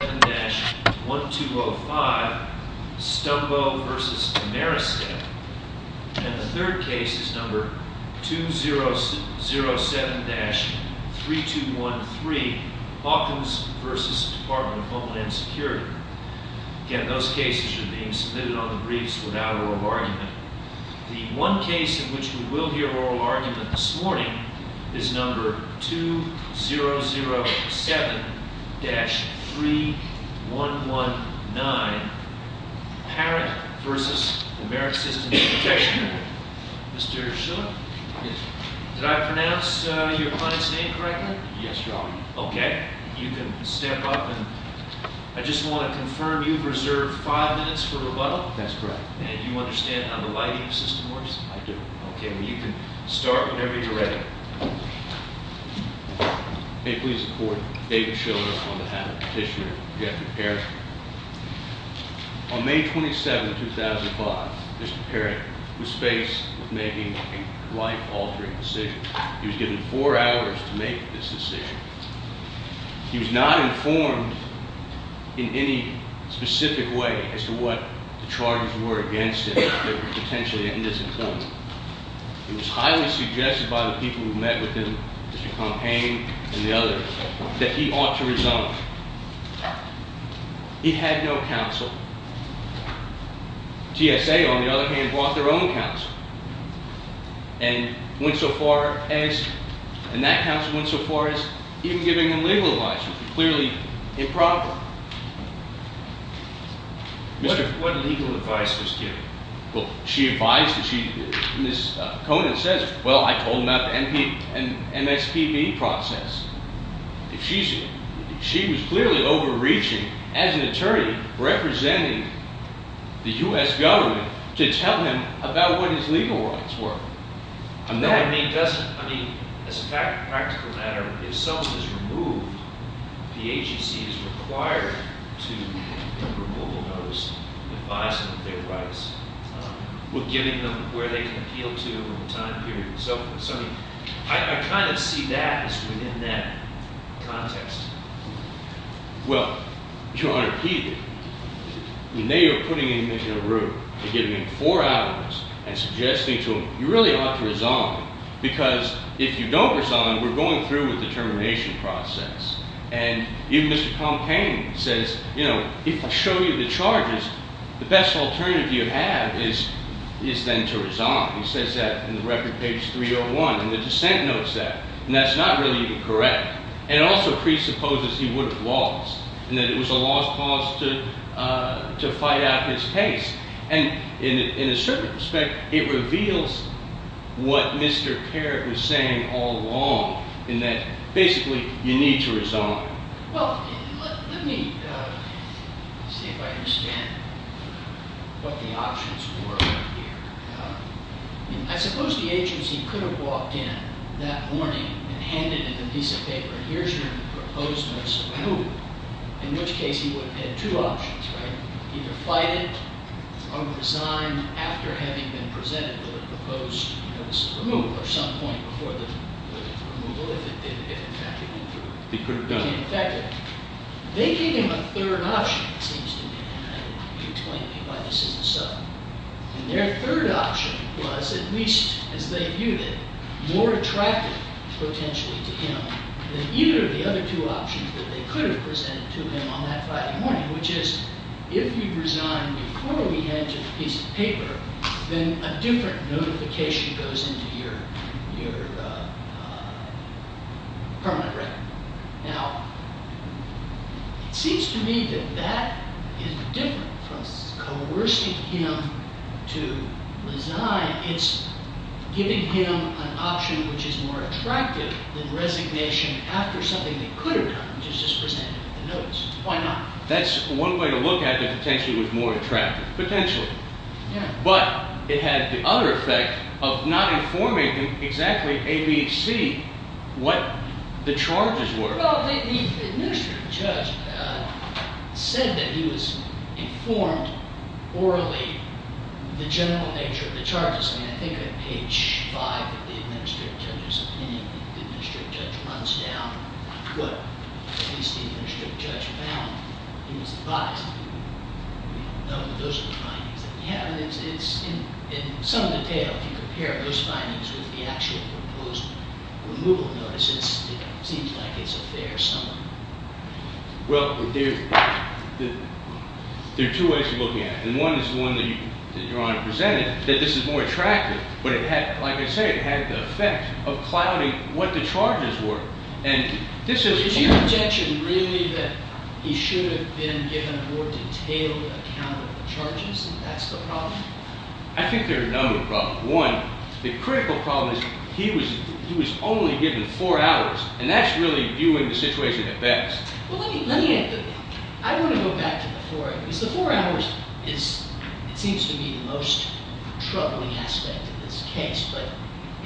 and the third case is number 2007-3213, Hawkins v. Department of Homeland Security. Again, those cases are being submitted on the briefs without oral argument. The one case in which you will hear oral argument this morning is number 2007-3119, Parrott v. American Systems Protection Group. Mr. Schiller, did I pronounce your client's name correctly? Yes, Your Honor. Okay. You can step up and I just want to confirm you've reserved five minutes for rebuttal? That's correct. And you understand how the lighting system works? I do. Okay. You can start whenever you're ready. May it please the Court, David Schiller on behalf of Petitioner Jeffrey Parrott. On May 27, 2005, Mr. Parrott was faced with making a life-altering decision. He was given four hours to make this decision. He was not informed in any specific way as to what the charges were against him that would potentially end his employment. It was highly suggested by the people who met with him, Mr. Compain and the others, that he ought to resign. He had no counsel. TSA, on the other hand, brought their own counsel and went so far as – and that counsel went so far as even giving him legal advice, which was clearly improper. What legal advice was given? Well, she advised that she – Ms. Conant says, well, I told him about the MSPB process. She was clearly overreaching as an attorney representing the U.S. government to tell him about what his legal rights were. No, I mean, doesn't – I mean, as a practical matter, if someone is removed, the agency is required to give removal notice advising their rights, giving them where they can appeal to over a time period and so forth. So, I mean, I kind of see that as within that context. Well, Your Honor, he – I mean, they are putting him in a room. They're giving him four hours and suggesting to him, you really ought to resign because if you don't resign, we're going through a determination process. And even Mr. Compain says, you know, if I show you the charges, the best alternative you have is then to resign. He says that in the record, page 301, and the dissent notes that. And that's not really correct. And it also presupposes he would have lost and that it was a lost cause to fight out his case. And in a certain respect, it reveals what Mr. Carrick was saying all along in that basically you need to resign. Well, let me see if I understand what the options were here. I mean, I suppose the agency could have walked in that morning and handed him a piece of paper. Here's your proposed notice of removal, in which case he would have had two options, right? Either fight it or resign after having been presented with a proposed notice of removal or some point before the removal if in fact he went through. He could have done it. In fact, they gave him a third option, it seems to me, and I don't want you to explain to me why this isn't so. And their third option was, at least as they viewed it, more attractive potentially to him than either of the other two options that they could have presented to him on that Friday morning, which is if you resign before we hand you the piece of paper, then a different notification goes into your permanent record. Now, it seems to me that that is different from coercing him to resign. It's giving him an option which is more attractive than resignation after something they could have done, which is just present him with a notice. Why not? That's one way to look at it, potentially it was more attractive, potentially. But it had the other effect of not informing him exactly, A, B, C, what the charges were. Well, the administrative judge said that he was informed orally the general nature of the charges. I mean, I think on page five of the administrative judge's opinion, the administrative judge runs down what at least the administrative judge found. But those are the findings that we have. And in some detail, if you compare those findings with the actual proposed removal notices, it seems like it's a fair summary. Well, there are two ways of looking at it. And one is the one that Your Honor presented, that this is more attractive. But it had, like I say, it had the effect of clouding what the charges were. And this is- Is your objection really that he should have been given a more detailed account of the charges, and that's the problem? I think there are a number of problems. One, the critical problem is he was only given four hours, and that's really viewing the situation at best. Well, let me add to that. I want to go back to the four hours. The four hours is, it seems to me, the most troubling aspect of this case. But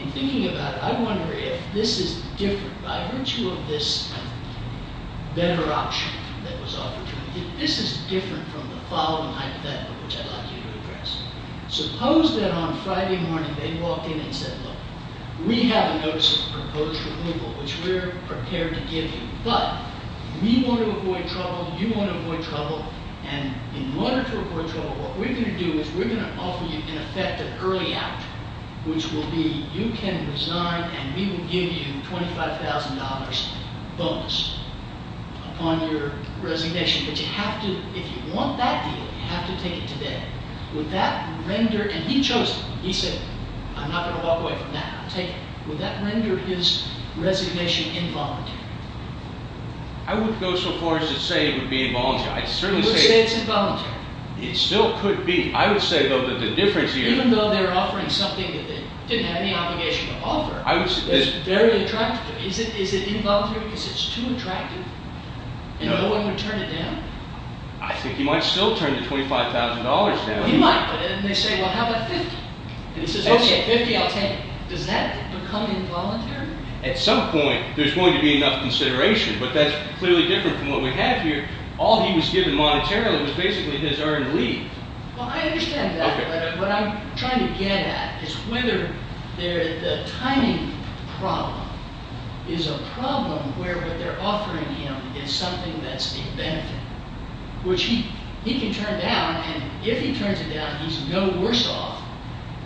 in thinking about it, I wonder if this is different by virtue of this better option that was offered to him. If this is different from the following hypothetical, which I'd like you to address. Suppose that on Friday morning they walked in and said, look, we have a notice of proposed removal, which we're prepared to give you. But we want to avoid trouble. You want to avoid trouble. And in order to avoid trouble, what we're going to do is we're going to offer you an effective early out, which will be you can resign, and we will give you $25,000 bonus upon your resignation. But you have to, if you want that deal, you have to take it today. Would that render, and he chose it. He said, I'm not going to walk away from that. I'll take it. Would that render his resignation involuntary? I wouldn't go so far as to say it would be involuntary. I'd certainly say it's involuntary. It still could be. I would say, though, that the difference here is. Even though they're offering something that they didn't have any obligation to offer, it's very attractive to them. Is it involuntary because it's too attractive? And no one would turn it down? I think he might still turn the $25,000 down. He might. And they say, well, how about 50? He says, OK, 50, I'll take it. Does that become involuntary? At some point, there's going to be enough consideration. But that's clearly different from what we have here. All he was given monetarily was basically his earned leave. Well, I understand that. But what I'm trying to get at is whether the timing problem is a problem where what they're offering him is something that's a benefit, which he can turn down. And if he turns it down, he's no worse off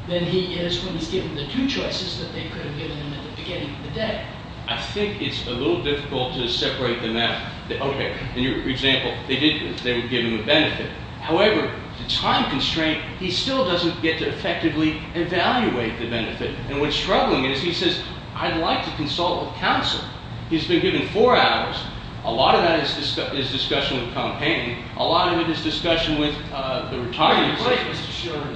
than he is when he's given the two choices that they could have given him at the beginning of the day. I think it's a little difficult to separate them out. OK, in your example, they would give him a benefit. However, the time constraint, he still doesn't get to effectively evaluate the benefit. And what's struggling is he says, I'd like to consult with counsel. He's been given four hours. A lot of that is discussion with campaigning. A lot of it is discussion with the retirement system.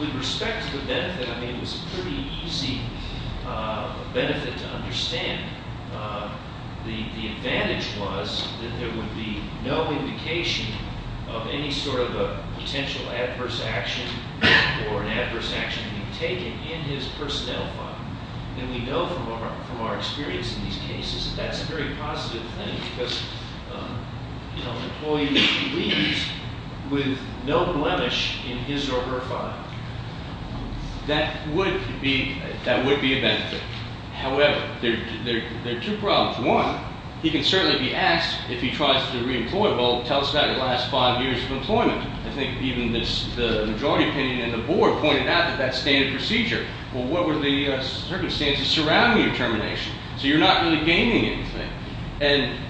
With respect to the benefit, I mean, it was a pretty easy benefit to understand. The advantage was that there would be no indication of any sort of a potential adverse action or an adverse action being taken in his personnel file. And we know from our experience in these cases that that's a very positive thing. Because an employee leaves with no blemish in his or her file. That would be a benefit. However, there are two problems. One, he can certainly be asked if he tries to reemploy. Well, tell us about your last five years of employment. I think even the majority opinion in the board pointed out that that's standard procedure. Well, what were the circumstances surrounding your termination? So you're not really gaining anything. And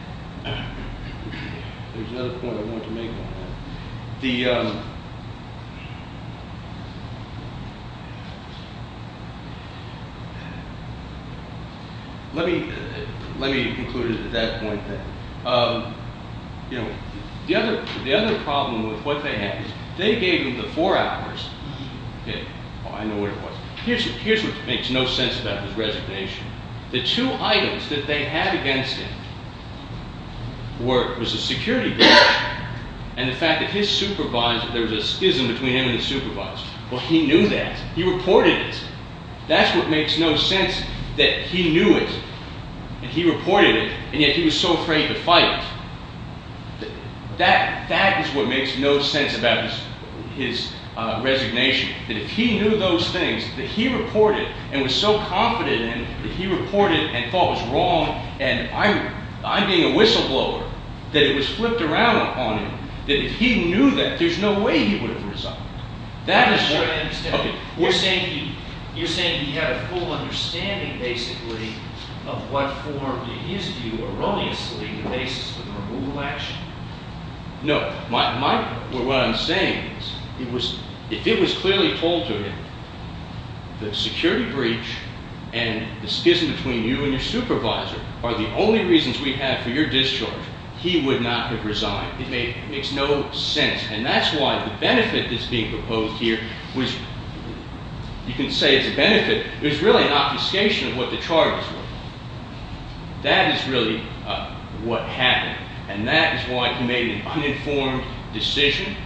there's another point I wanted to make on that. Let me conclude at that point then. You know, the other problem with what they had is they gave him the four hours. I know what it was. Here's what makes no sense about his resignation. The two items that they had against him was the security guard and the fact that there was a schism between him and the supervisor. Well, he knew that. He reported it. That's what makes no sense that he knew it and he reported it, and yet he was so afraid to fight it. That is what makes no sense about his resignation. That if he knew those things, that he reported and was so confident that he reported and thought it was wrong, and I'm being a whistleblower, that it was flipped around on him. That if he knew that, there's no way he would have resigned. That is what— I understand. You're saying he had a full understanding, basically, of what formed, in his view, erroneously, the basis for the removal action? No. What I'm saying is if it was clearly told to him that security breach and the schism between you and your supervisor are the only reasons we have for your discharge, he would not have resigned. It makes no sense, and that's why the benefit that's being proposed here was—you can say it's a benefit. It was really an obfuscation of what the charges were. That is really what happened, and that is why he made an uninformed decision.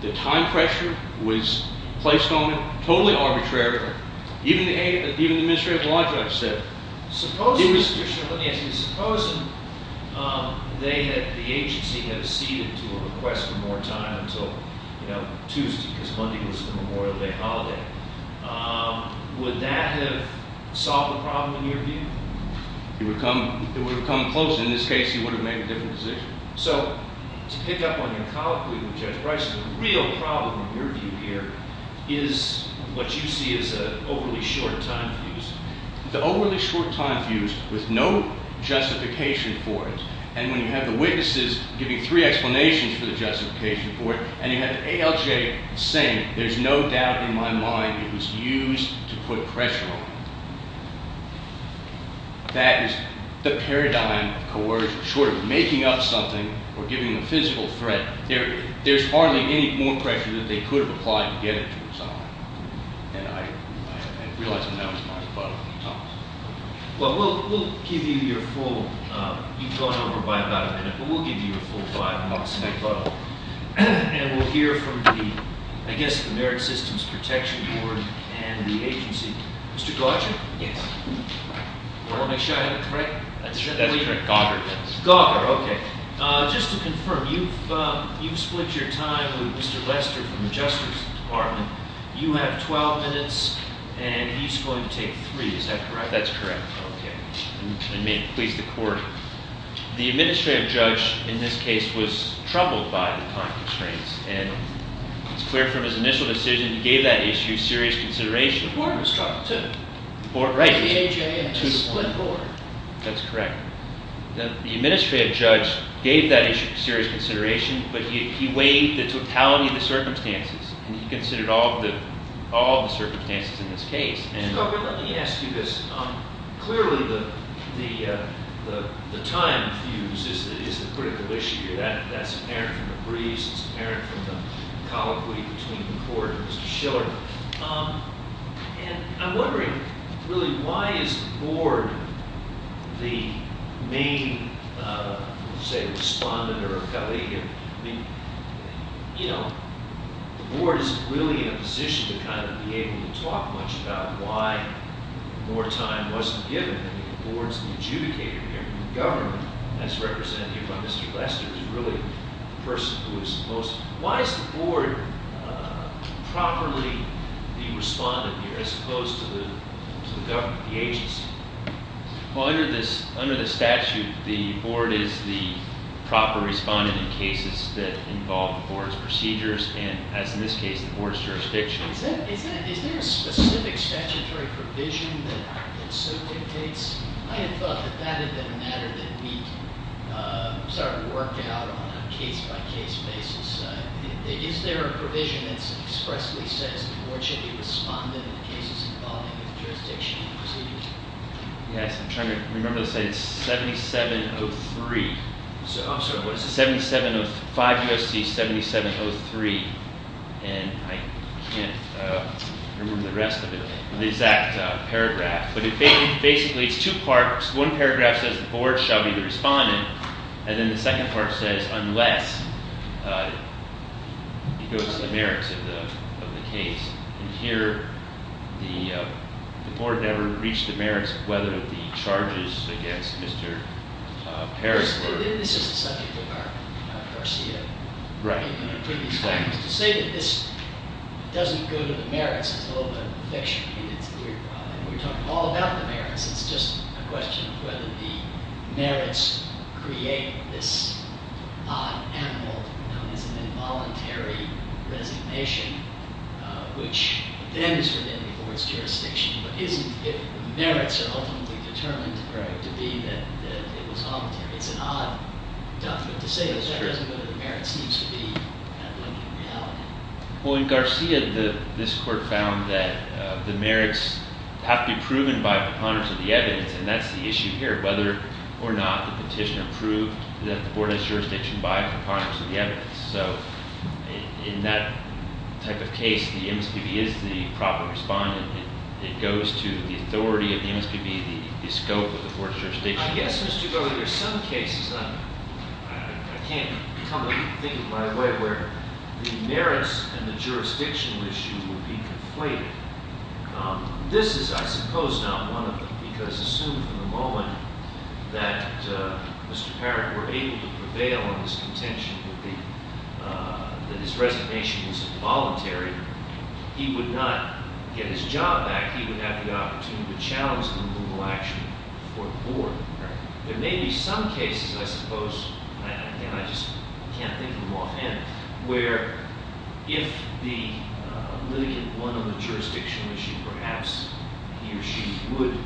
The time pressure was placed on him. Totally arbitrary. Even the administrative logic I've said. Supposing—let me ask you. Supposing they had—the agency had acceded to a request for more time until, you know, Tuesday, because Monday was the Memorial Day holiday. Would that have solved the problem, in your view? It would have come closer. In this case, he would have made a different decision. So, to pick up on your colloquy with Judge Bryce, the real problem, in your view here, is what you see as overly short time views. The overly short time views, with no justification for it, and when you have the witnesses giving three explanations for the justification for it, and you have ALJ saying, there's no doubt in my mind it was used to put pressure on him. That is the paradigm of coercion. Short of making up something or giving a physical threat, there's hardly any more pressure that they could have applied to get it to resolve. And I realize that that was my thought at the time. Well, we'll give you your full—you've gone over by about a minute, but we'll give you your full five months of thought. And we'll hear from the, I guess, the Merit Systems Protection Board and the agency. Mr. Gaugher? Yes. You want to make sure I have it correct? That's correct. Gaugher, yes. Gaugher, okay. Just to confirm, you've split your time with Mr. Lester from the Justice Department. You have 12 minutes, and he's going to take three, is that correct? That's correct. Okay. And may it please the Court, the administrative judge in this case was troubled by the time constraints, and it's clear from his initial decision he gave that issue serious consideration. The board was troubled, too. Right. The AHA had to split board. That's correct. The administrative judge gave that issue serious consideration, but he weighed the totality of the circumstances, and he considered all of the circumstances in this case. Mr. Gaugher, let me ask you this. Clearly, the time fuse is the critical issue here. That's apparent from the briefs. It's apparent from the colloquy between the Court and Mr. Schiller. And I'm wondering, really, why is the board the main, say, respondent or a colleague? I mean, you know, the board is really in a position to kind of be able to talk much about why more time wasn't given. I mean, the board's the adjudicator here. The government, as represented here by Mr. Lester, is really the person who is the most. Why is the board properly the respondent here, as opposed to the government, the agency? Well, under the statute, the board is the proper respondent in cases that involve the board's procedures, and as in this case, the board's jurisdiction. Is there a specific statutory provision that so dictates? I had thought that that had been a matter that we sort of worked out on a case-by-case basis. Is there a provision that expressly says the board should be the respondent in the cases involving the jurisdiction and procedures? Yes, I'm trying to remember to say it's 7703. I'm sorry, what is it? 5 U.S.C. 7703, and I can't remember the rest of it, the exact paragraph. But basically, it's two parts. One paragraph says the board shall be the respondent, and then the second part says unless it goes to the merits of the case. And here, the board never reached the merits, whether the charges against Mr. Perry were- This is a subject of our CA. Right. To say that this doesn't go to the merits is a little bit of a fiction. We're talking all about the merits. It's just a question of whether the merits create this odd animal known as an involuntary resignation, which then is for the board's jurisdiction, but isn't if the merits are ultimately determined to be that it was voluntary. It's an odd document to say this. That doesn't go to the merits. It seems to be a blended reality. Well, in Garcia, this court found that the merits have to be proven by preponderance of the evidence, and that's the issue here, whether or not the petitioner proved that the board has jurisdiction by preponderance of the evidence. So in that type of case, the MSPB is the proper respondent. It goes to the authority of the MSPB, the scope of the board's jurisdiction. I guess, Mr. Gover, there are some cases, and I can't come to think of them right away, where the merits and the jurisdictional issue would be conflated. This is, I suppose, not one of them, because assume for the moment that Mr. Parrott were able to prevail on his contention that his resignation was involuntary, he would not get his job back. He would have the opportunity to challenge the approval action for the board. There may be some cases, I suppose, and I just can't think of them offhand, where if the litigant won on the jurisdictional issue, perhaps he or she would,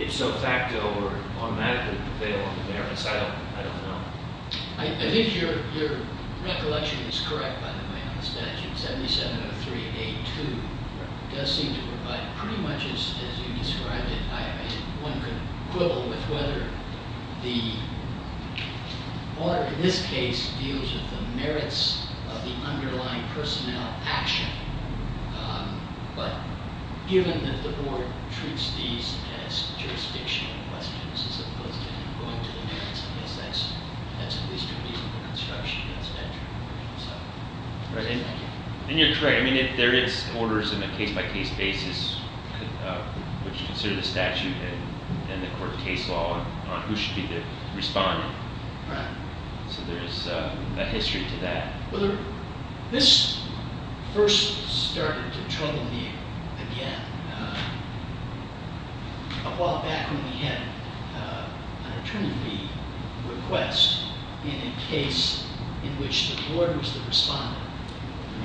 if so facto or automatically, prevail on the merits. I don't know. I think your recollection is correct, by the way, on the statute. 7703A2 does seem to provide pretty much, as you described it, one could quibble with whether the order in this case deals with the merits of the underlying personnel action. But given that the board treats these as jurisdictional questions, as opposed to going to the merits, I guess that's at least reasonable construction. And you're correct. I mean, there is orders on a case-by-case basis, which consider the statute and the court of case law on who should be the respondent. So there is a history to that. Well, this first started to trouble me again a while back when we had an attorney request in a case in which the board was the respondent.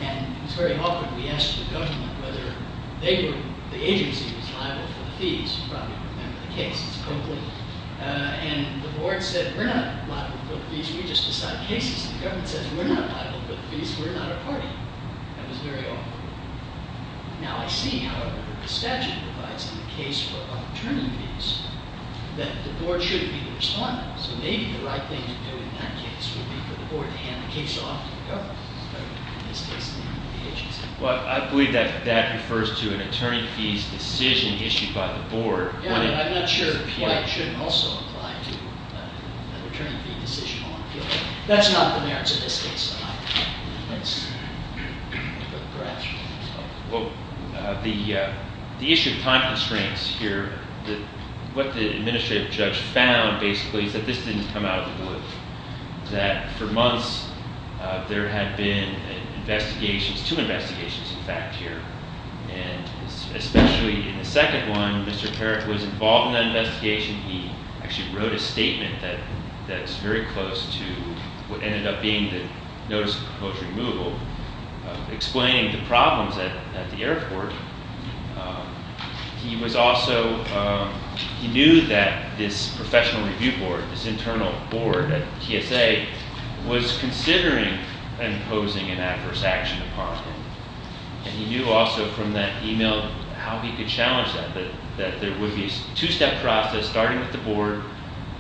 And it was very often we asked the government whether the agency was liable for the fees. You probably remember the case. It's Coakley. And the board said, we're not liable for the fees. We just decide cases. The government says, we're not liable for the fees. We're not a party. That was very often. Now, I see, however, the statute provides in the case for attorney fees that the board should be the respondent. So maybe the right thing to do in that case would be for the board to hand the case off to the government. In this case, the agency. Well, I believe that that refers to an attorney fees decision issued by the board. Yeah, but I'm not sure why it shouldn't also apply to an attorney fee decision on appeal. That's not the merits of this case. Well, the issue of time constraints here, what the administrative judge found basically is that this didn't come out of the blue. That for months, there had been investigations, two investigations, in fact, here. And especially in the second one, Mr. Parrott was involved in that investigation. He actually wrote a statement that's very close to what ended up being the notice of removal, explaining the problems at the airport. He was also, he knew that this professional review board, this internal board at TSA, was considering imposing an adverse action upon him. And he knew also from that email how he could challenge that. That there would be a two-step process, starting with the board,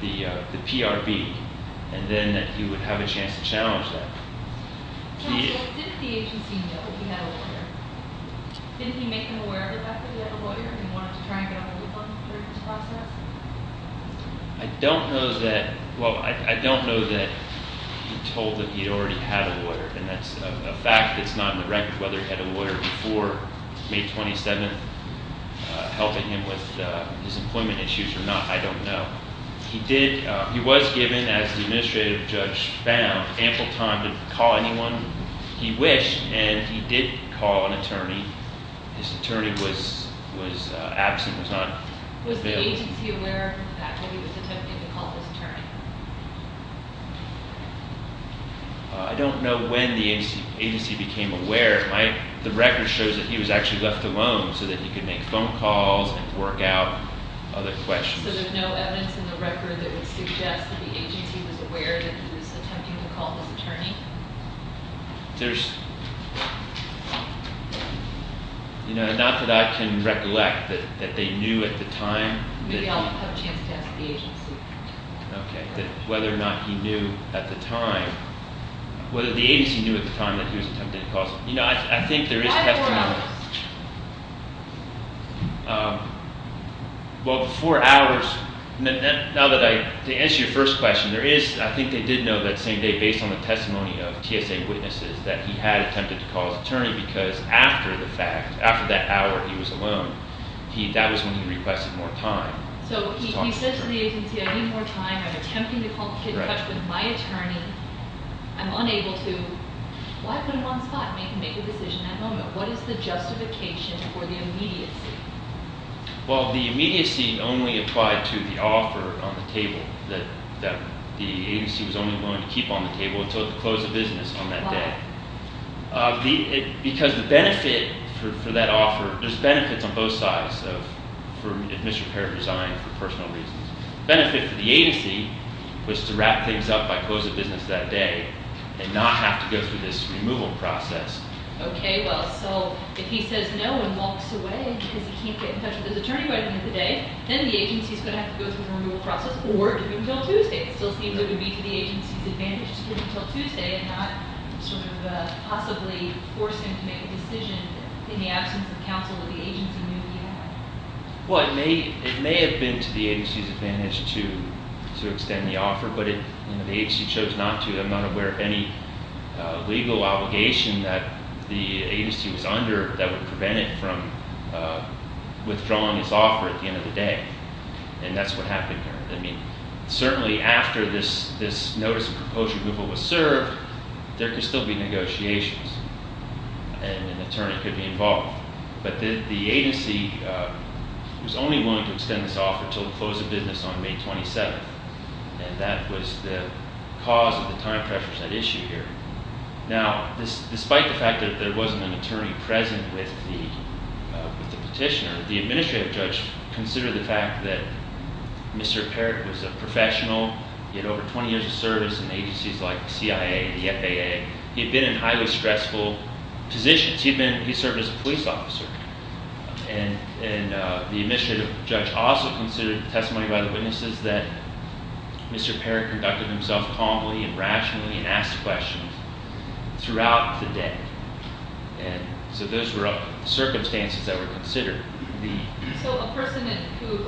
the PRB, and then that he would have a chance to challenge that. Did the agency know that he had a lawyer? Didn't he make them aware of the fact that he had a lawyer and he wanted to try and get a hold of them during this process? I don't know that, well, I don't know that he told that he already had a lawyer. And that's a fact that's not in the record, whether he had a lawyer before May 27th, helping him with his employment issues or not, I don't know. He did, he was given, as the administrative judge found, ample time to call anyone he wished. And he did call an attorney. His attorney was absent, was not available. Was the agency aware of the fact that he was attempting to call his attorney? I don't know when the agency became aware. The record shows that he was actually left alone so that he could make phone calls and work out other questions. So there's no evidence in the record that would suggest that the agency was aware that he was attempting to call his attorney? There's, you know, not that I can recollect that they knew at the time. Maybe I'll have a chance to ask the agency. Okay, whether or not he knew at the time, whether the agency knew at the time that he was attempting to call his attorney. You know, I think there is testimony. Well, before hours, now that I, to answer your first question, there is, I think they did know that same day, based on the testimony of TSA witnesses, that he had attempted to call his attorney because after the fact, after that hour, he was alone. That was when he requested more time. So he said to the agency, I need more time, I'm attempting to call, get in touch with my attorney, I'm unable to. Why put him on the spot and make a decision at that moment? What is the justification for the immediacy? Well, the immediacy only applied to the offer on the table that the agency was only going to keep on the table until it closed the business on that day. Why? Because the benefit for that offer, there's benefits on both sides of, for misrepaired design, for personal reasons. The benefit for the agency was to wrap things up by closing the business that day and not have to go through this removal process. Okay, well, so if he says no and walks away because he can't get in touch with his attorney by the end of the day, then the agency is going to have to go through the removal process or do it until Tuesday. It still seems it would be to the agency's advantage to do it until Tuesday and not sort of possibly force him to make a decision in the absence of counsel that the agency knew he had. Well, it may have been to the agency's advantage to extend the offer, but the agency chose not to. I'm not aware of any legal obligation that the agency was under that would prevent it from withdrawing its offer at the end of the day, and that's what happened here. I mean, certainly after this notice of proposal removal was served, there could still be negotiations, and an attorney could be involved. But the agency was only willing to extend this offer until the close of business on May 27th, and that was the cause of the time pressures that issue here. Now, despite the fact that there wasn't an attorney present with the petitioner, the administrative judge considered the fact that Mr. Parrott was a professional. He had over 20 years of service in agencies like the CIA, the FAA. He had been in highly stressful positions. He served as a police officer. And the administrative judge also considered testimony by the witnesses that Mr. Parrott conducted himself calmly and rationally and asked questions throughout the day. And so those were circumstances that were considered. So a person who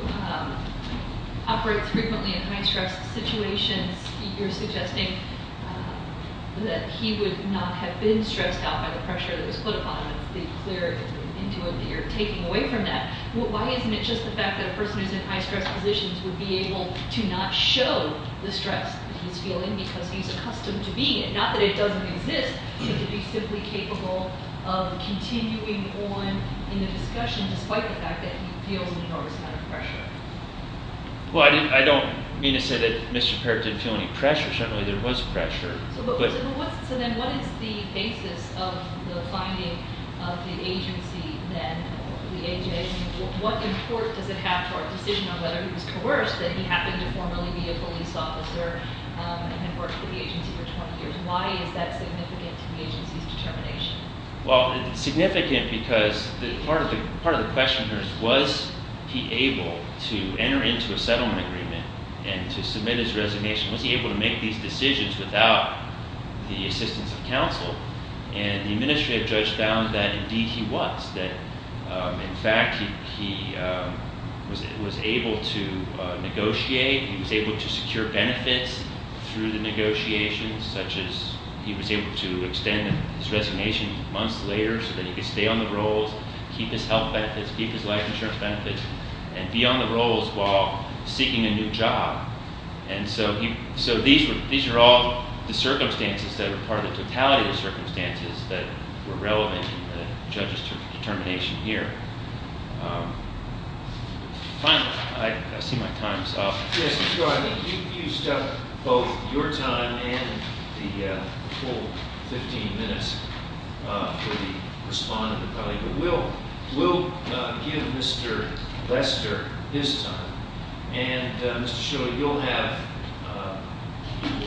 operates frequently in high-stress situations, you're suggesting that he would not have been stressed out by the pressure that was put upon him. It's been clear that you're taking away from that. Why isn't it just the fact that a person who's in high-stress positions would be able to not show the stress that he's feeling because he's accustomed to being it? Not that it doesn't exist, but to be simply capable of continuing on in the discussion despite the fact that he feels enormous amount of pressure. Well, I don't mean to say that Mr. Parrott didn't feel any pressure. Certainly there was pressure. So then what is the basis of the finding of the agency then, the AJA? I mean, what import does it have to our decision on whether he was coerced that he happened to formerly be a police officer and had worked for the agency for 20 years? Why is that significant to the agency's determination? Well, it's significant because part of the question here is was he able to enter into a settlement agreement and to submit his resignation? Was he able to make these decisions without the assistance of counsel? And the administrative judge found that, indeed, he was, that, in fact, he was able to negotiate. He was able to secure benefits through the negotiations, such as he was able to extend his resignation months later so that he could stay on the rolls, keep his health benefits, keep his life insurance benefits, and be on the rolls while seeking a new job. And so these are all the circumstances that are part of the totality of the circumstances that were relevant in the judge's determination here. Finally, I see my time is up. Yes, you are. I think you've used up both your time and the full 15 minutes for the respondent and colleague. We'll give Mr. Lester his time. And, Mr. Schiller, you'll have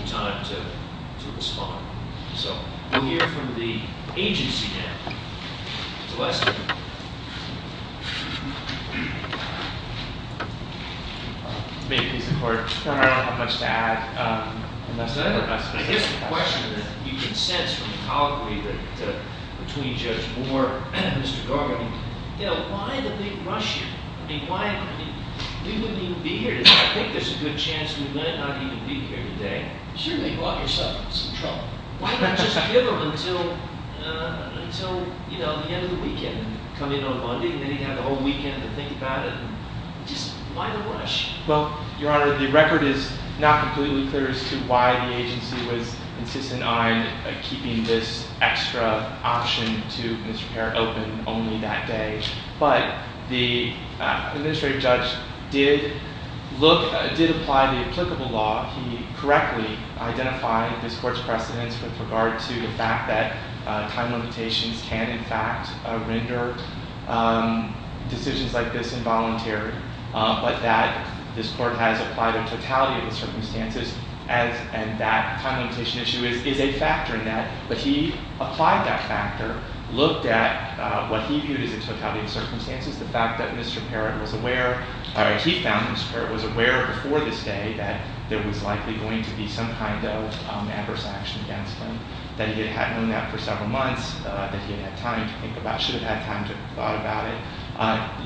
time to respond. So we'll hear from the agency now. Mr. Lester. Thank you, Mr. Court. I don't have much to add. I guess the question that you can sense from the colloquy between Judge Moore and Mr. Garber, you know, why the big rush here? I mean, why? I mean, we wouldn't even be here today. I think there's a good chance we might not even be here today. Surely you brought yourself some trouble. Why not just give them until, you know, the end of the weekend, come in on Monday, and then you have the whole weekend to think about it? Just why the rush? Well, Your Honor, the record is not completely clear as to why the agency was insistent on keeping this extra option to Mr. Parr open only that day. But the administrative judge did apply the applicable law. He correctly identified this court's precedence with regard to the fact that time limitations can, in fact, render decisions like this involuntary. But that this court has applied a totality of the circumstances, and that time limitation issue is a factor in that. But he applied that factor, looked at what he viewed as a totality of circumstances, the fact that Mr. Parr was aware, or he found Mr. Parr was aware before this day that there was likely going to be some kind of adverse action against him, that he had known that for several months, that he had had time to think about, should have had time to have thought about it.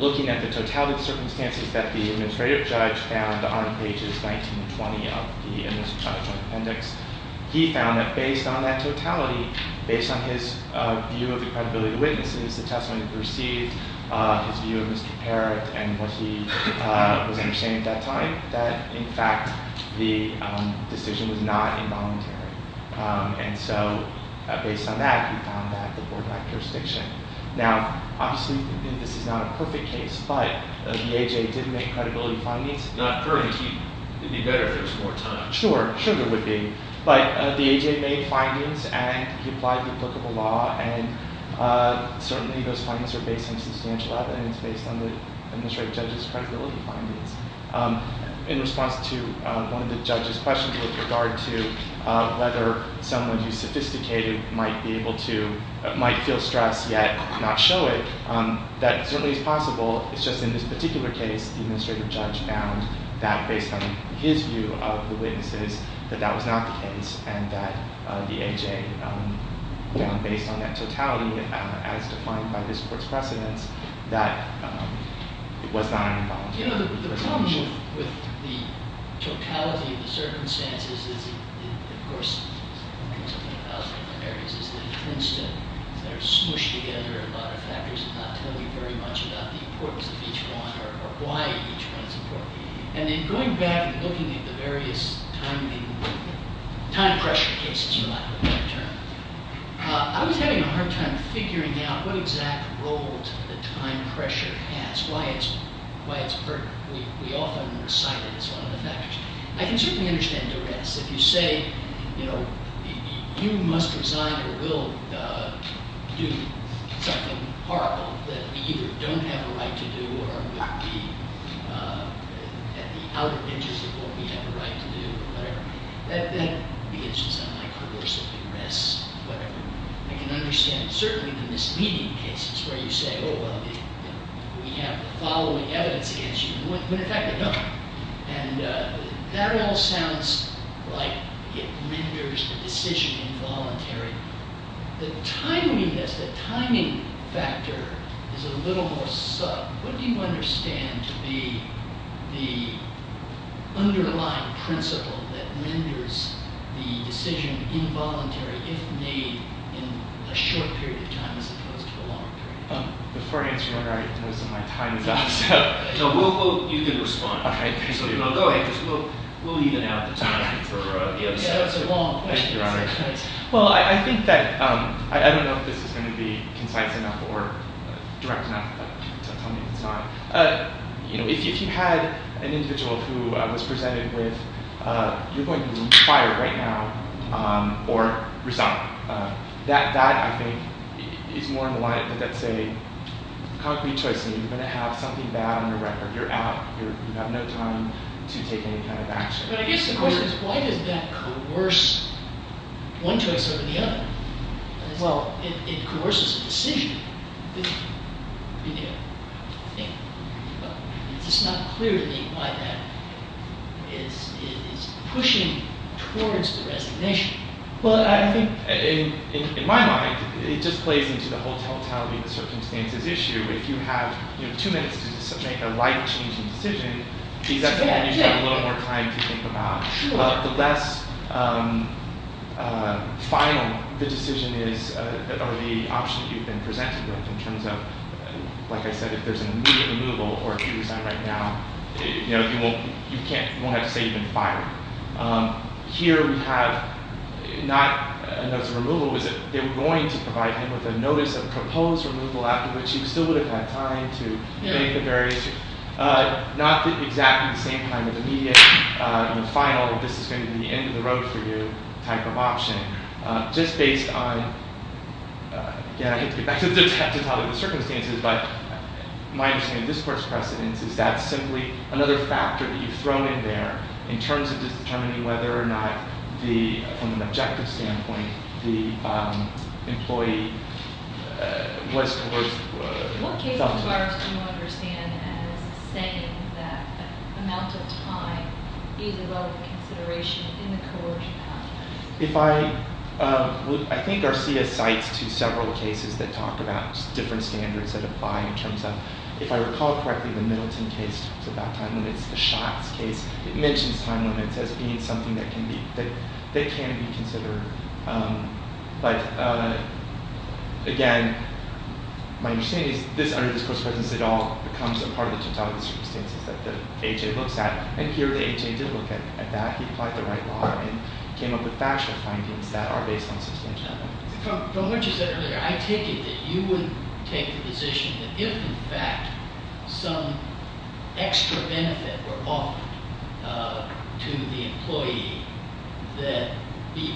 Looking at the totality of circumstances that the administrative judge found on pages 19 and 20 of the appendix, he found that based on that totality, based on his view of the credibility of witnesses, the testimony that he received, his view of Mr. Parr, and what he was understanding at that time, that, in fact, the decision was not involuntary. And so, based on that, he found that the board lacked jurisdiction. Now, obviously, this is not a perfect case, but the A.J. did make credibility findings. Not perfect. It would be better if there was more time. Sure. Sure there would be. But the A.J. made findings, and he applied replicable law, and certainly those findings are based on substantial evidence, based on the administrative judge's credibility findings. In response to one of the judge's questions with regard to whether someone who's sophisticated might be able to, might feel stressed yet not show it, that certainly is possible. It's just in this particular case, the administrative judge found that based on his view of the witnesses, that that was not the case, and that the A.J. found based on that totality, as defined by this court's precedents, that it was not involuntary. You know, the problem with the totality of the circumstances is, of course, and there's a thousand different areas, is that it tends to smush together a lot of factors and not tell you very much about the importance of each one or why each one is important. And in going back and looking at the various time pressure cases, for lack of a better term, I was having a hard time figuring out what exact role the time pressure has, why it's pertinent. We often recite it as one of the factors. I can certainly understand duress. If you say, you know, you must resign or will do something horrible that we either don't have a right to do or would be at the outer edges of what we have a right to do or whatever, that would be an instance of, like, coercive duress or whatever. I can understand, certainly, the misleading cases where you say, oh, well, we have the following evidence against you when, in fact, we don't. And that all sounds like it renders the decision involuntary. The timeliness, the timing factor is a little more sub. What do you understand to be the underlying principle that renders the decision involuntary if made in a short period of time as opposed to a long period of time? Before I answer your question, most of my time is up. No, you can respond. Okay, thank you. Go ahead. We'll even out the time. That's a long question. Thank you, Your Honor. Well, I think that I don't know if this is going to be concise enough or direct enough to tell me it's not. If you had an individual who was presented with, you're going to be fired right now or resigned. That, I think, is more on the line. That's a concrete choice. You're going to have something bad on your record. You're out. You have no time to take any kind of action. But I guess the question is why does that coerce one choice over the other? Well, it coerces the decision. It's just not clear to me why that is pushing towards the resignation. Well, I think, in my mind, it just plays into the whole telltale circumstances issue. If you have two minutes to make a life-changing decision, that's the one you have a little more time to think about. But the less final the decision is, or the option you've been presented with, in terms of, like I said, if there's an immediate removal or if you resign right now, you won't have to say you've been fired. Here we have not a notice of removal. They were going to provide him with a notice of proposed removal, after which he still would have had time to think of various, not exactly the same kind of immediate and final, this is going to be the end of the road for you, type of option. Just based on, again, I have to get back to the telltale circumstances, but my understanding of discourse precedence is that's simply another factor that you've thrown in there in terms of determining whether or not, from an objective standpoint, the employee was coerced. What case do you understand as saying that amount of time is a level of consideration in the coercion? I think Garcia cites to several cases that talk about different standards that apply in terms of, if I recall correctly, the Middleton case talks about time limits, the Schatz case, it mentions time limits as being something that can be considered. But, again, my understanding is this, under this course of precedence, it all becomes a part of the telltale circumstances that the HA looks at. And here the HA did look at that. He applied the right law and came up with factual findings that are based on substantial evidence. From what you said earlier, I take it that you would take the position that if, in fact, some extra benefit were offered to the employee that,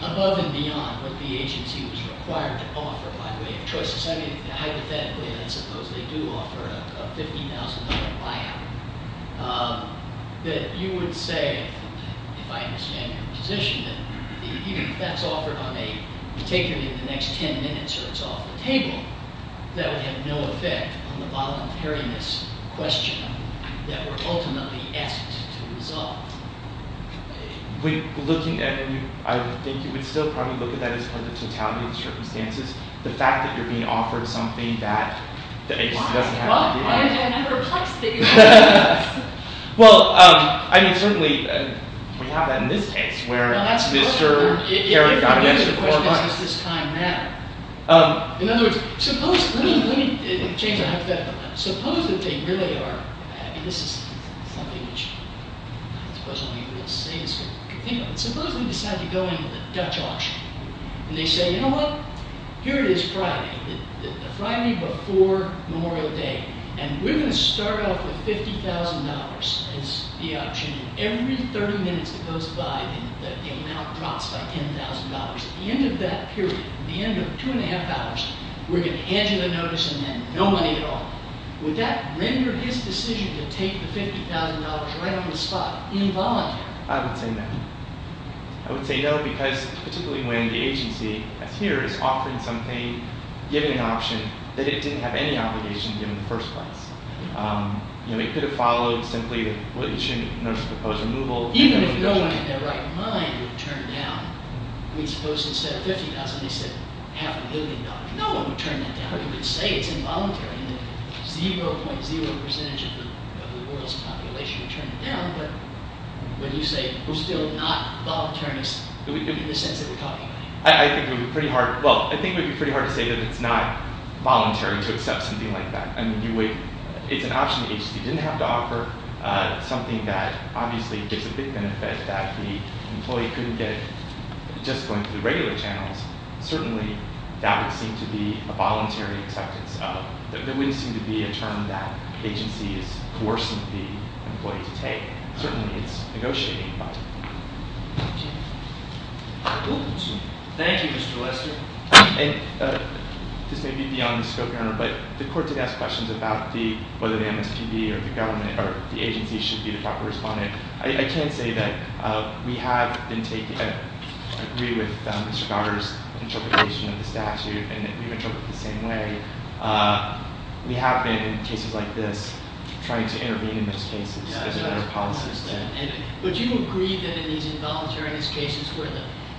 above and beyond what the agency was required to offer by way of choices, I mean, hypothetically, I suppose they do offer a $50,000 buyout, that you would say, if I understand your position, that even if that's offered on a, taken in the next ten minutes or it's off the table, that would have no effect on the voluntariness question that we're ultimately asked to resolve. We're looking at, and I think you would still probably look at that as part of the totality of the circumstances. The fact that you're being offered something that the agency doesn't have to deal with. Well, I'm perplexed that you would say that. Well, I mean, certainly we have that in this case, where Mr. Kerry got an extra $4 million. The question is, does this time matter? In other words, suppose, let me change the subject. Suppose that they really are, I mean, this is something which, I suppose all you're going to say is, suppose we decide to go into the Dutch auction, and they say, you know what, here it is Friday, the Friday before Memorial Day, and we're going to start off with $50,000 as the option, and every 30 minutes that goes by, the amount drops by $10,000. At the end of that period, at the end of two and a half hours, we're going to hand you the notice and then no money at all. Would that render his decision to take the $50,000 right on the spot involuntary? I would say no. I would say no because, particularly when the agency, as here, is offering something, giving an option that it didn't have any obligation to give in the first place. It could have followed simply that you shouldn't notice a proposed removal. Even if no one in their right mind would turn down, we suppose instead of $50,000, they said half a billion dollars. No one would turn that down. You could say it's involuntary, and then 0.0 percentage of the world's population would turn it down, but when you say we're still not voluntarists, in the sense that we're talking about. I think it would be pretty hard, well, I think it would be pretty hard to say that it's not voluntary to accept something like that. It's an option the agency didn't have to offer, something that obviously gives a big benefit that the employee couldn't get just going through the regular channels. Certainly, that would seem to be a voluntary acceptance of. There wouldn't seem to be a term that the agency is coercing the employee to take. Certainly, it's negotiating. Thank you, Mr. Lester. This may be beyond the scope, Your Honor, but the court did ask questions about whether the MSPB or the government or the agency should be the proper respondent. I can say that we have been taking, I agree with Mr. Goddard's interpretation of the statute, and we've interpreted it the same way. We have been, in cases like this, trying to intervene in those cases as a matter of policy. Would you agree that in these involuntary cases where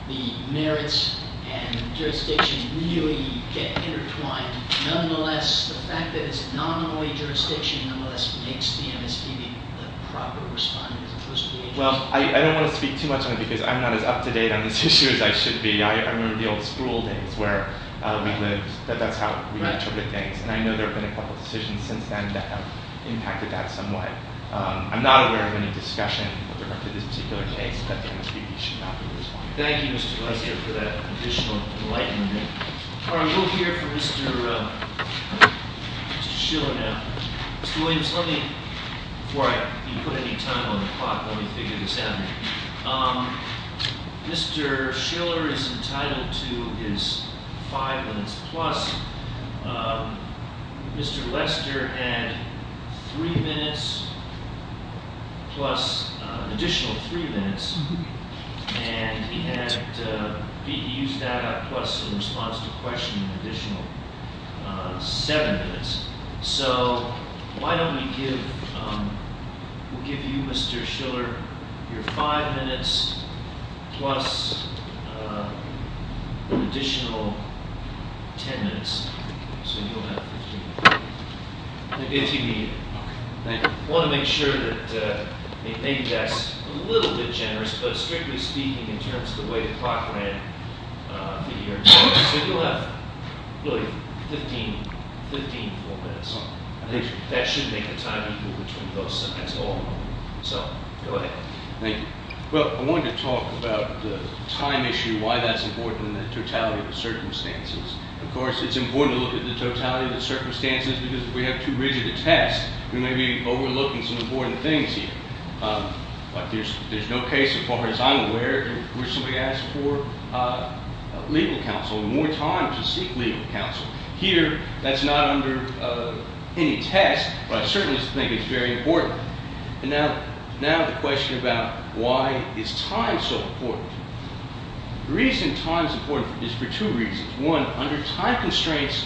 the merits and jurisdiction really get intertwined, nonetheless, the fact that it's not only jurisdiction, nonetheless, makes the MSPB the proper respondent as opposed to the agency? Well, I don't want to speak too much on it because I'm not as up to date on this issue as I should be. I remember the old school days where we lived. That's how we interpreted things, and I know there have been a couple decisions since then that have impacted that somewhat. I'm not aware of any discussion with regard to this particular case that the MSPB should not be the respondent. Thank you, Mr. Lester, for that additional enlightenment. All right, we'll hear from Mr. Schiller now. Mr. Williams, let me, before I put any time on the clock, let me figure this out. Mr. Schiller is entitled to his five minutes plus. Mr. Lester had three minutes plus an additional three minutes, and he used that plus in response to a question an additional seven minutes. So why don't we give you, Mr. Schiller, your five minutes plus an additional ten minutes. So you'll have 15 minutes. Okay, thank you. I want to make sure that maybe that's a little bit generous, but strictly speaking, in terms of the way the clock ran, you'll have really 15 full minutes. I think that should make a time equal between those seven minutes all in all. So, go ahead. Thank you. Well, I wanted to talk about the time issue, why that's important, and the totality of the circumstances. Of course, it's important to look at the totality of the circumstances, because if we have too rigid a test, we may be overlooking some important things here. But there's no case, as far as I'm aware, where somebody asked for legal counsel, more time to seek legal counsel. Here, that's not under any test, but I certainly think it's very important. And now the question about why is time so important? The reason time is important is for two reasons. One, under time constraints,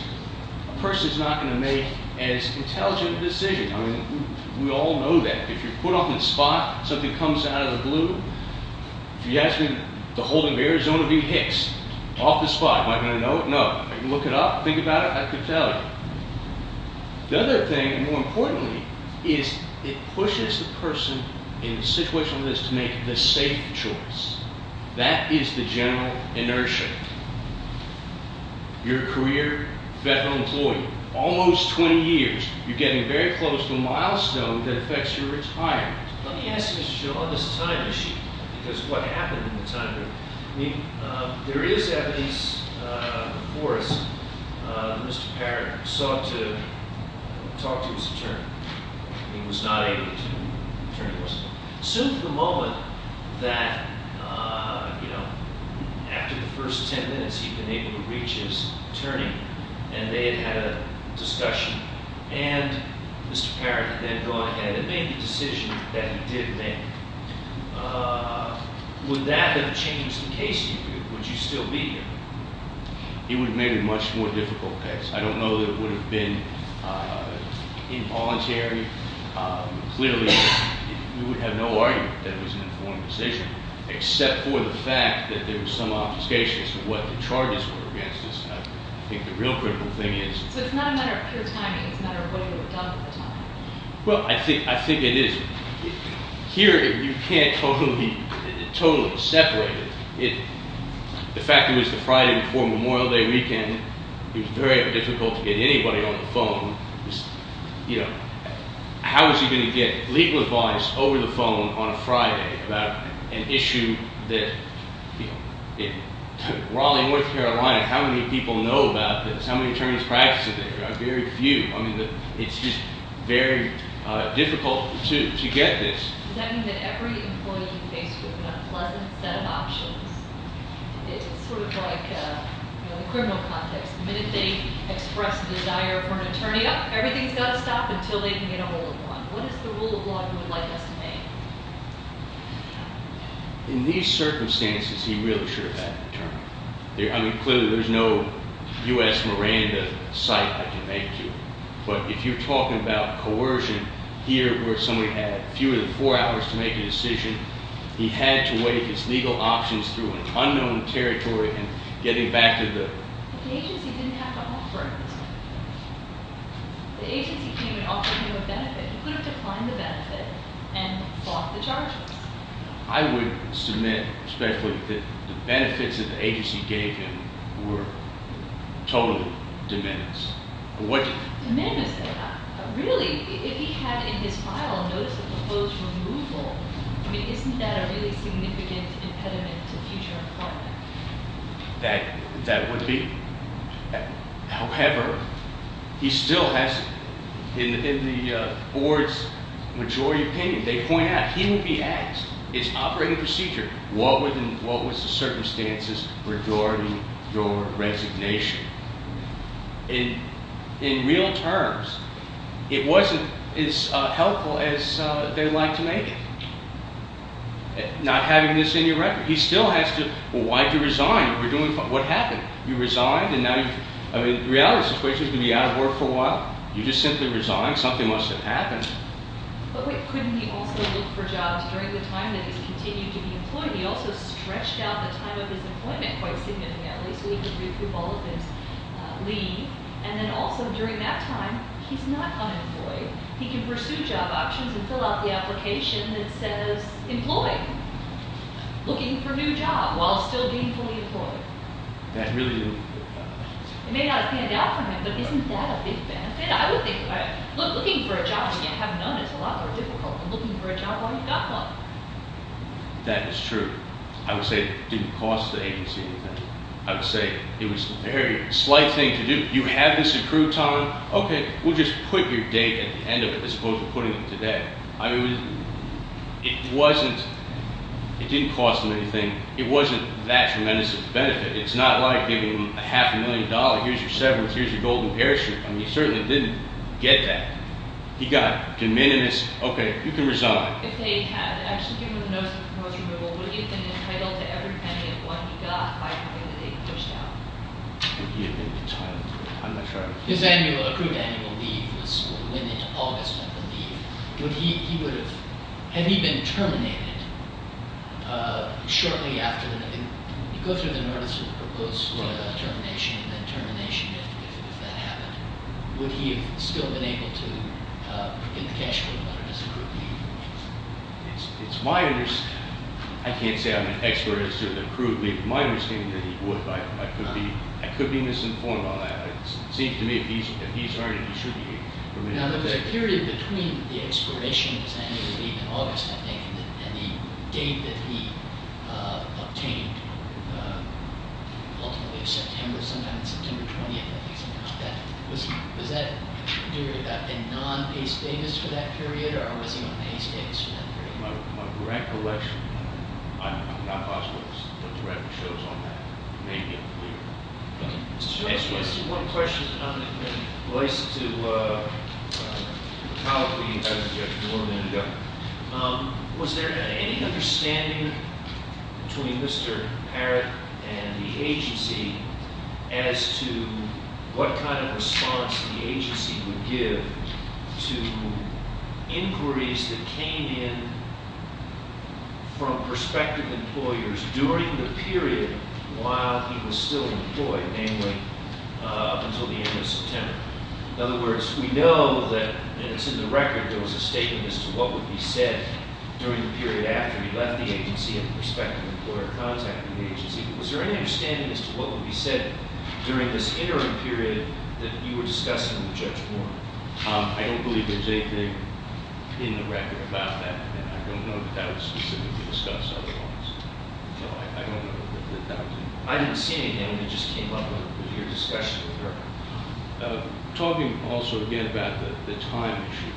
a person is not going to make as intelligent a decision. I mean, we all know that. If you're put on the spot, something comes out of the blue. If you ask me, the holding of Arizona v. Hicks, off the spot, am I going to know it? No. If you look it up, think about it, I could tell you. The other thing, more importantly, is it pushes the person in the situation they're in to make the safe choice. That is the general inertia. You're a career veteran employee, almost 20 years. You're getting very close to a milestone that affects your retirement. Let me ask you a question on this time issue because of what happened in the time period. I mean, there is evidence before us that Mr. Parr sought to talk to his attorney. He was not able to turn to us. Soon after the moment that, you know, after the first ten minutes, he'd been able to reach his attorney, and they had had a discussion, and Mr. Parr had then gone ahead and made the decision that he did make. Would that have changed the case? Would you still be here? It would have made it a much more difficult case. I don't know that it would have been involuntary. Clearly, we would have no argument that it was an informed decision, except for the fact that there was some obfuscation as to what the charges were against us. I think the real critical thing is- So it's not a matter of pure timing. It's a matter of what you had done at the time. Well, I think it is. Here, you can't totally separate it. The fact it was the Friday before Memorial Day weekend, it was very difficult to get anybody on the phone. You know, how was he going to get legal advice over the phone on a Friday about an issue that, you know, in Raleigh, North Carolina, how many people know about this? How many attorneys practice it there? There are very few. I mean, it's just very difficult to get this. Does that mean that every employee is faced with an unpleasant set of options? It's sort of like, you know, the criminal context. The minute they express a desire for an attorney, everything's got to stop until they can get a hold of one. What is the rule of law you would like us to make? In these circumstances, he really should have had an attorney. I mean, clearly, there's no U.S. Miranda site that can make you. But if you're talking about coercion, here where somebody had fewer than four hours to make a decision, he had to wade his legal options through an unknown territory and getting back to the- The agency didn't have to offer it. The agency came and offered him a benefit. He could have declined the benefit and fought the charges. I would submit, respectfully, that the benefits that the agency gave him were totally de menos. De menos? Really, if he had in his file a notice of proposed removal, I mean, isn't that a really significant impediment to future employment? That would be. However, he still has, in the board's majority opinion, they point out, he would be asked, it's operating procedure, what was the circumstances regarding your resignation? In real terms, it wasn't as helpful as they'd like to make it. Not having this in your record. He still has to, well, why'd you resign? What happened? You resigned and now you, I mean, the reality of the situation is you're going to be out of work for a while. You just simply resigned. Something must have happened. But wait, couldn't he also look for jobs during the time that he's continued to be employed? He also stretched out the time of his employment quite significantly. At least we could recoup all of his leave. And then also, during that time, he's not unemployed. He can pursue job options and fill out the application that says employed. Looking for a new job while still being fully employed. That really didn't work out. It may not have panned out for him, but isn't that a big benefit? I would think, looking for a job when you have none is a lot more difficult than looking for a job while you've got one. That is true. I would say it didn't cost the agency anything. I would say it was a very slight thing to do. You have this accrued time. Okay, we'll just put your date at the end of it as opposed to putting it today. It didn't cost them anything. It wasn't that tremendous of a benefit. It's not like giving them a half a million dollars. Here's your severance. Here's your golden parachute. He certainly didn't get that. He got de minimis. Okay, you can resign. If they had actually given him notice of proposed removal, would he have been entitled to every penny of one he got by having the date pushed out? Would he have been entitled to it? I'm not sure. His annual, accrued annual leave was, went into August of the leave. Would he, he would have, had he been terminated shortly after, go through the notice of the proposed termination and then termination if that happened, would he have still been able to get the cash for the amount of his accrued leave? It's my, I can't say I'm an expert as to the accrued leave. It's my understanding that he would. I could be, I could be misinformed on that. It seems to me if he's, if he's earned it, he should be permitted. Now, the period between the expiration of his annual leave in August, I think, and the date that he obtained, ultimately September, sometime on September 20th, I think, something like that, was, was that a non-pay status for that period, or was he on pay status for that period? That's my recollection. I'm, I'm not possible to direct the shows on that. It may be unclear. Okay. Mr. Chairman, I just want to ask you one question. Related to the policy, as you have warned me, was there any understanding between Mr. Parrott and the agency as to what kind of response the agency would give to inquiries that came in from prospective employers during the period while he was still employed, namely until the end of September? In other words, we know that, and it's in the record, there was a statement as to what would be said during the period after he left the agency and the prospective employer contacted the agency. Was there any understanding as to what would be said during this interim period that you were discussing with Judge Moore? I don't believe there's anything in the record about that. And I don't know that that was specifically discussed otherwise. So I, I don't know that that would be. I didn't see anything. It just came up in your discussion with her. Talking also, again, about the, the time issue.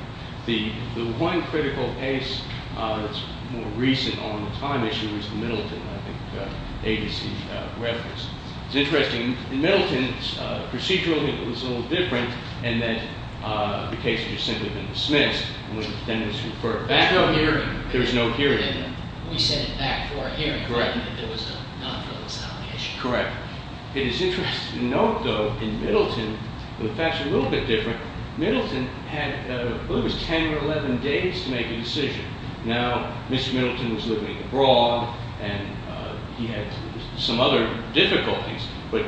The, the one critical case that's more recent on the time issue is the Middleton, I think, agency reference. It's interesting. In Middleton, procedurally, it was a little different in that the case had just simply been dismissed. And then it was referred back. There was no hearing. We sent it back for a hearing. Correct. There was a non-criminalization. Correct. It is interesting to note, though, in Middleton, the facts are a little bit different. Middleton had, I believe it was 10 or 11 days to make a decision. Now, Mr. Middleton was living abroad, and he had some other difficulties. But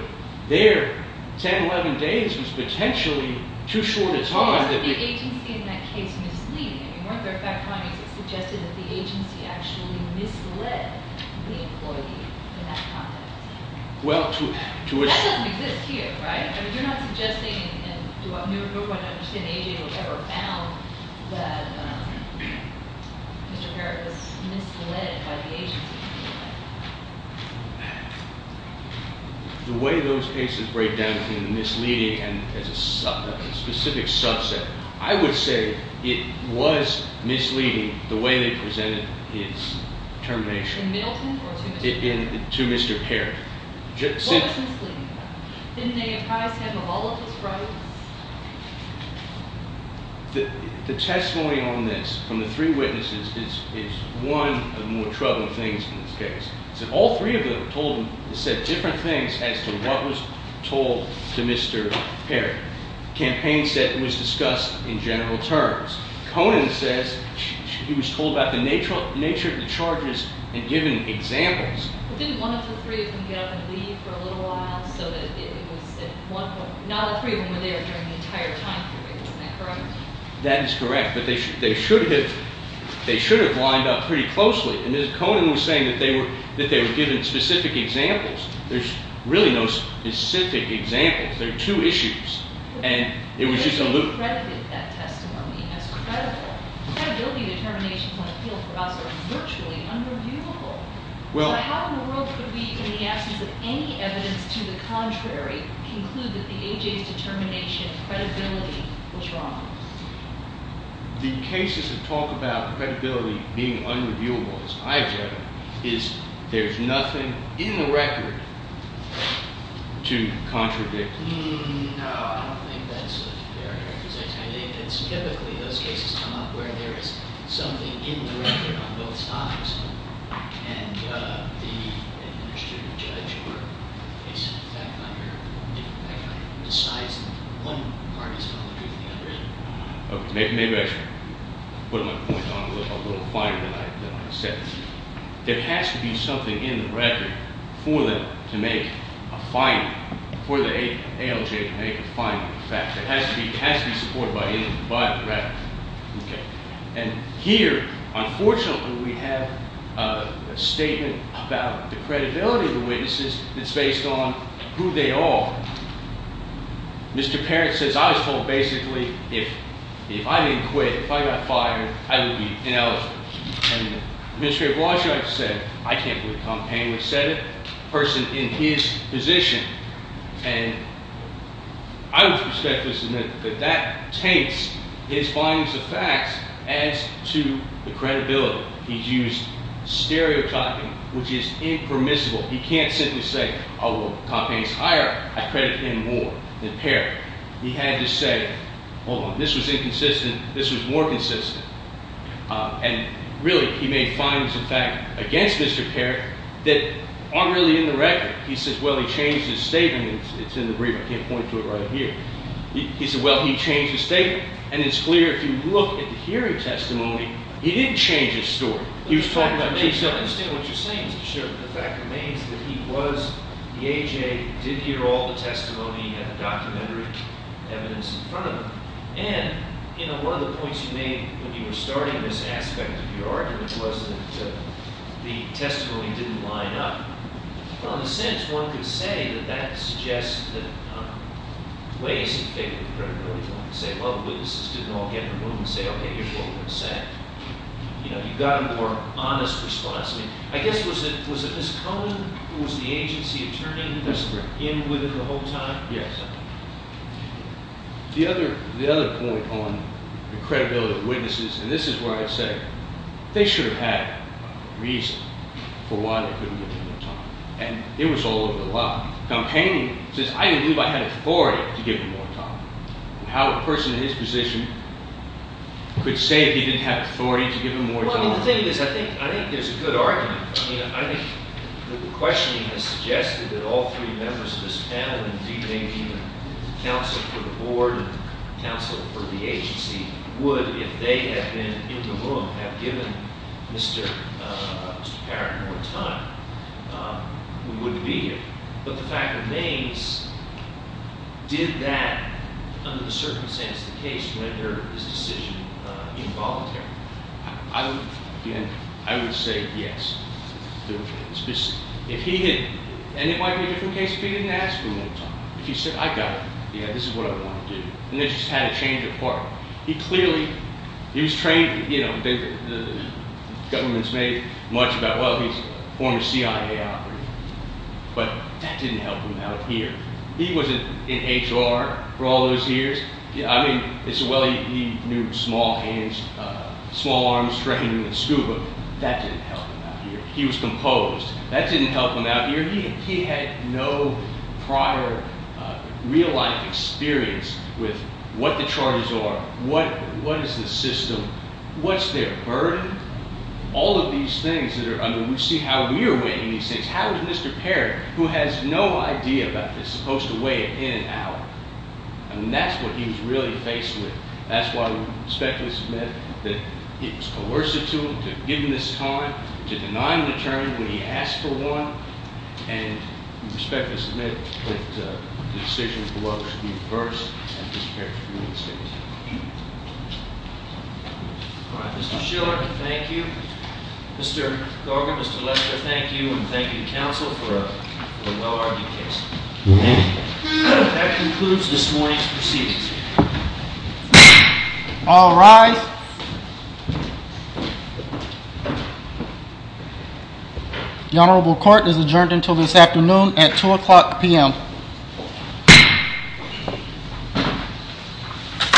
their 10, 11 days was potentially too short a time. But wasn't the agency in that case misleading? I mean, weren't there fact findings that suggested that the agency actually misled the employee in that context? Well, to, to a certain extent. That doesn't exist here, right? I mean, you're not suggesting, and you're not going to understand the agency who ever found that Mr. Parrott was misled by the agency. The way those cases break down into misleading and as a specific subset, I would say it was misleading the way they presented his termination. In Middleton or to Mr. Parrott? To Mr. Parrott. What was misleading about him? Didn't they advise him of all of his rights? The testimony on this from the three witnesses is one of the more troubling things in this case. All three of them told him, said different things as to what was told to Mr. Parrott. Campaign said it was discussed in general terms. Conan says he was told about the nature of the charges and given examples. But didn't one of the three of them get up and leave for a little while so that it was at one point, not all three of them were there during the entire time period. Isn't that correct? That is correct. But they should have, they should have lined up pretty closely. And Conan was saying that they were, that they were given specific examples. There's really no specific examples. There are two issues. And it was just a little. But they credited that testimony as credible. Credibility determinations on appeal for us are virtually unreviewable. How in the world could we, in the absence of any evidence to the contrary, conclude that the AJ's determination of credibility was wrong? The cases that talk about credibility being unreviewable, as I have read, is there's nothing in the record to contradict. No, I don't think that's a fair representation. I think it's typically those cases, Tom, where there is something in the record on both sides. And the administrative judge or case fact finder decides that one party is going to do the other. Maybe I should put my point on a little finer than I said. There has to be something in the record for them to make a finding, for the ALJ to make a finding of fact. It has to be supported by anything but the record. And here, unfortunately, we have a statement about the credibility of the witnesses that's based on who they are. Mr. Parent says, I was told basically if I didn't quit, if I got fired, I would be ineligible. And Administrator Blanchard said, I can't believe Tom Paley said it. A person in his position. And I would respectfully submit that that taints his findings of facts as to the credibility. He's used stereotyping, which is impermissible. He can't simply say, oh, well, Tom Paley's hired. I credit him more than Parent. He had to say, hold on, this was inconsistent. This was more consistent. And really, he made findings of fact against Mr. Parent that aren't really in the record. He says, well, he changed his statement. It's in the brief. I can't point to it right here. He said, well, he changed his statement. And it's clear if you look at the hearing testimony, he didn't change his story. He was talking about the fact that he was the AJ, did hear all the testimony, had the documentary evidence in front of him. And one of the points you made when you were starting this aspect of your argument was that the testimony didn't line up. Well, in a sense, one could say that that suggests that ways of taking the credibility is one could say, well, the witnesses didn't all get in the room and say, OK, here's what we're going to say. You know, you've got a more honest response. I mean, I guess was it Ms. Cone who was the agency attorney that you were in with the whole time? Yes. The other point on the credibility of witnesses, and this is where I'd say, they should have had a reason for why they couldn't give him more time. And it was all over the law. Now, Paine says, I didn't believe I had authority to give him more time. How a person in his position could say he didn't have authority to give him more time? Well, I mean, the thing is, I think there's a good argument. I mean, I think the questioning has suggested that all three members of this panel, including counsel for the board and counsel for the agency, would, if they had been in the room, have given Mr. Garrett more time, we wouldn't be here. But the fact remains, did that, under the circumstances of the case, render his decision involuntary? I would say yes. And it might be a different case if he didn't ask for more time. If he said, I got it. Yeah, this is what I want to do. And this just had a change of heart. He clearly, he was trained, you know, the government's made much about, well, he's a former CIA operative. But that didn't help him out here. He wasn't in HR for all those years. I mean, they said, well, he knew small hands, small arms, striking a scuba. That didn't help him out here. He was composed. That didn't help him out here. He had no prior real-life experience with what the charges are, what is the system, what's their burden, all of these things. I mean, we see how we are weighing these things. How is Mr. Parrot, who has no idea about this, supposed to weigh it in and out? I mean, that's what he was really faced with. That's why we respectfully submit that it was coercive to him to give him this time, to deny him a term when he asked for one, and we respectfully submit that the decision for Weller should be reversed and dispatched to the United States. All right. Mr. Schiller, thank you. Mr. Thorgan, Mr. Lester, thank you, and thank you to counsel for a well-argued case. That concludes this morning's proceedings. All rise. The honorable court is adjourned until this afternoon at 2 o'clock p.m.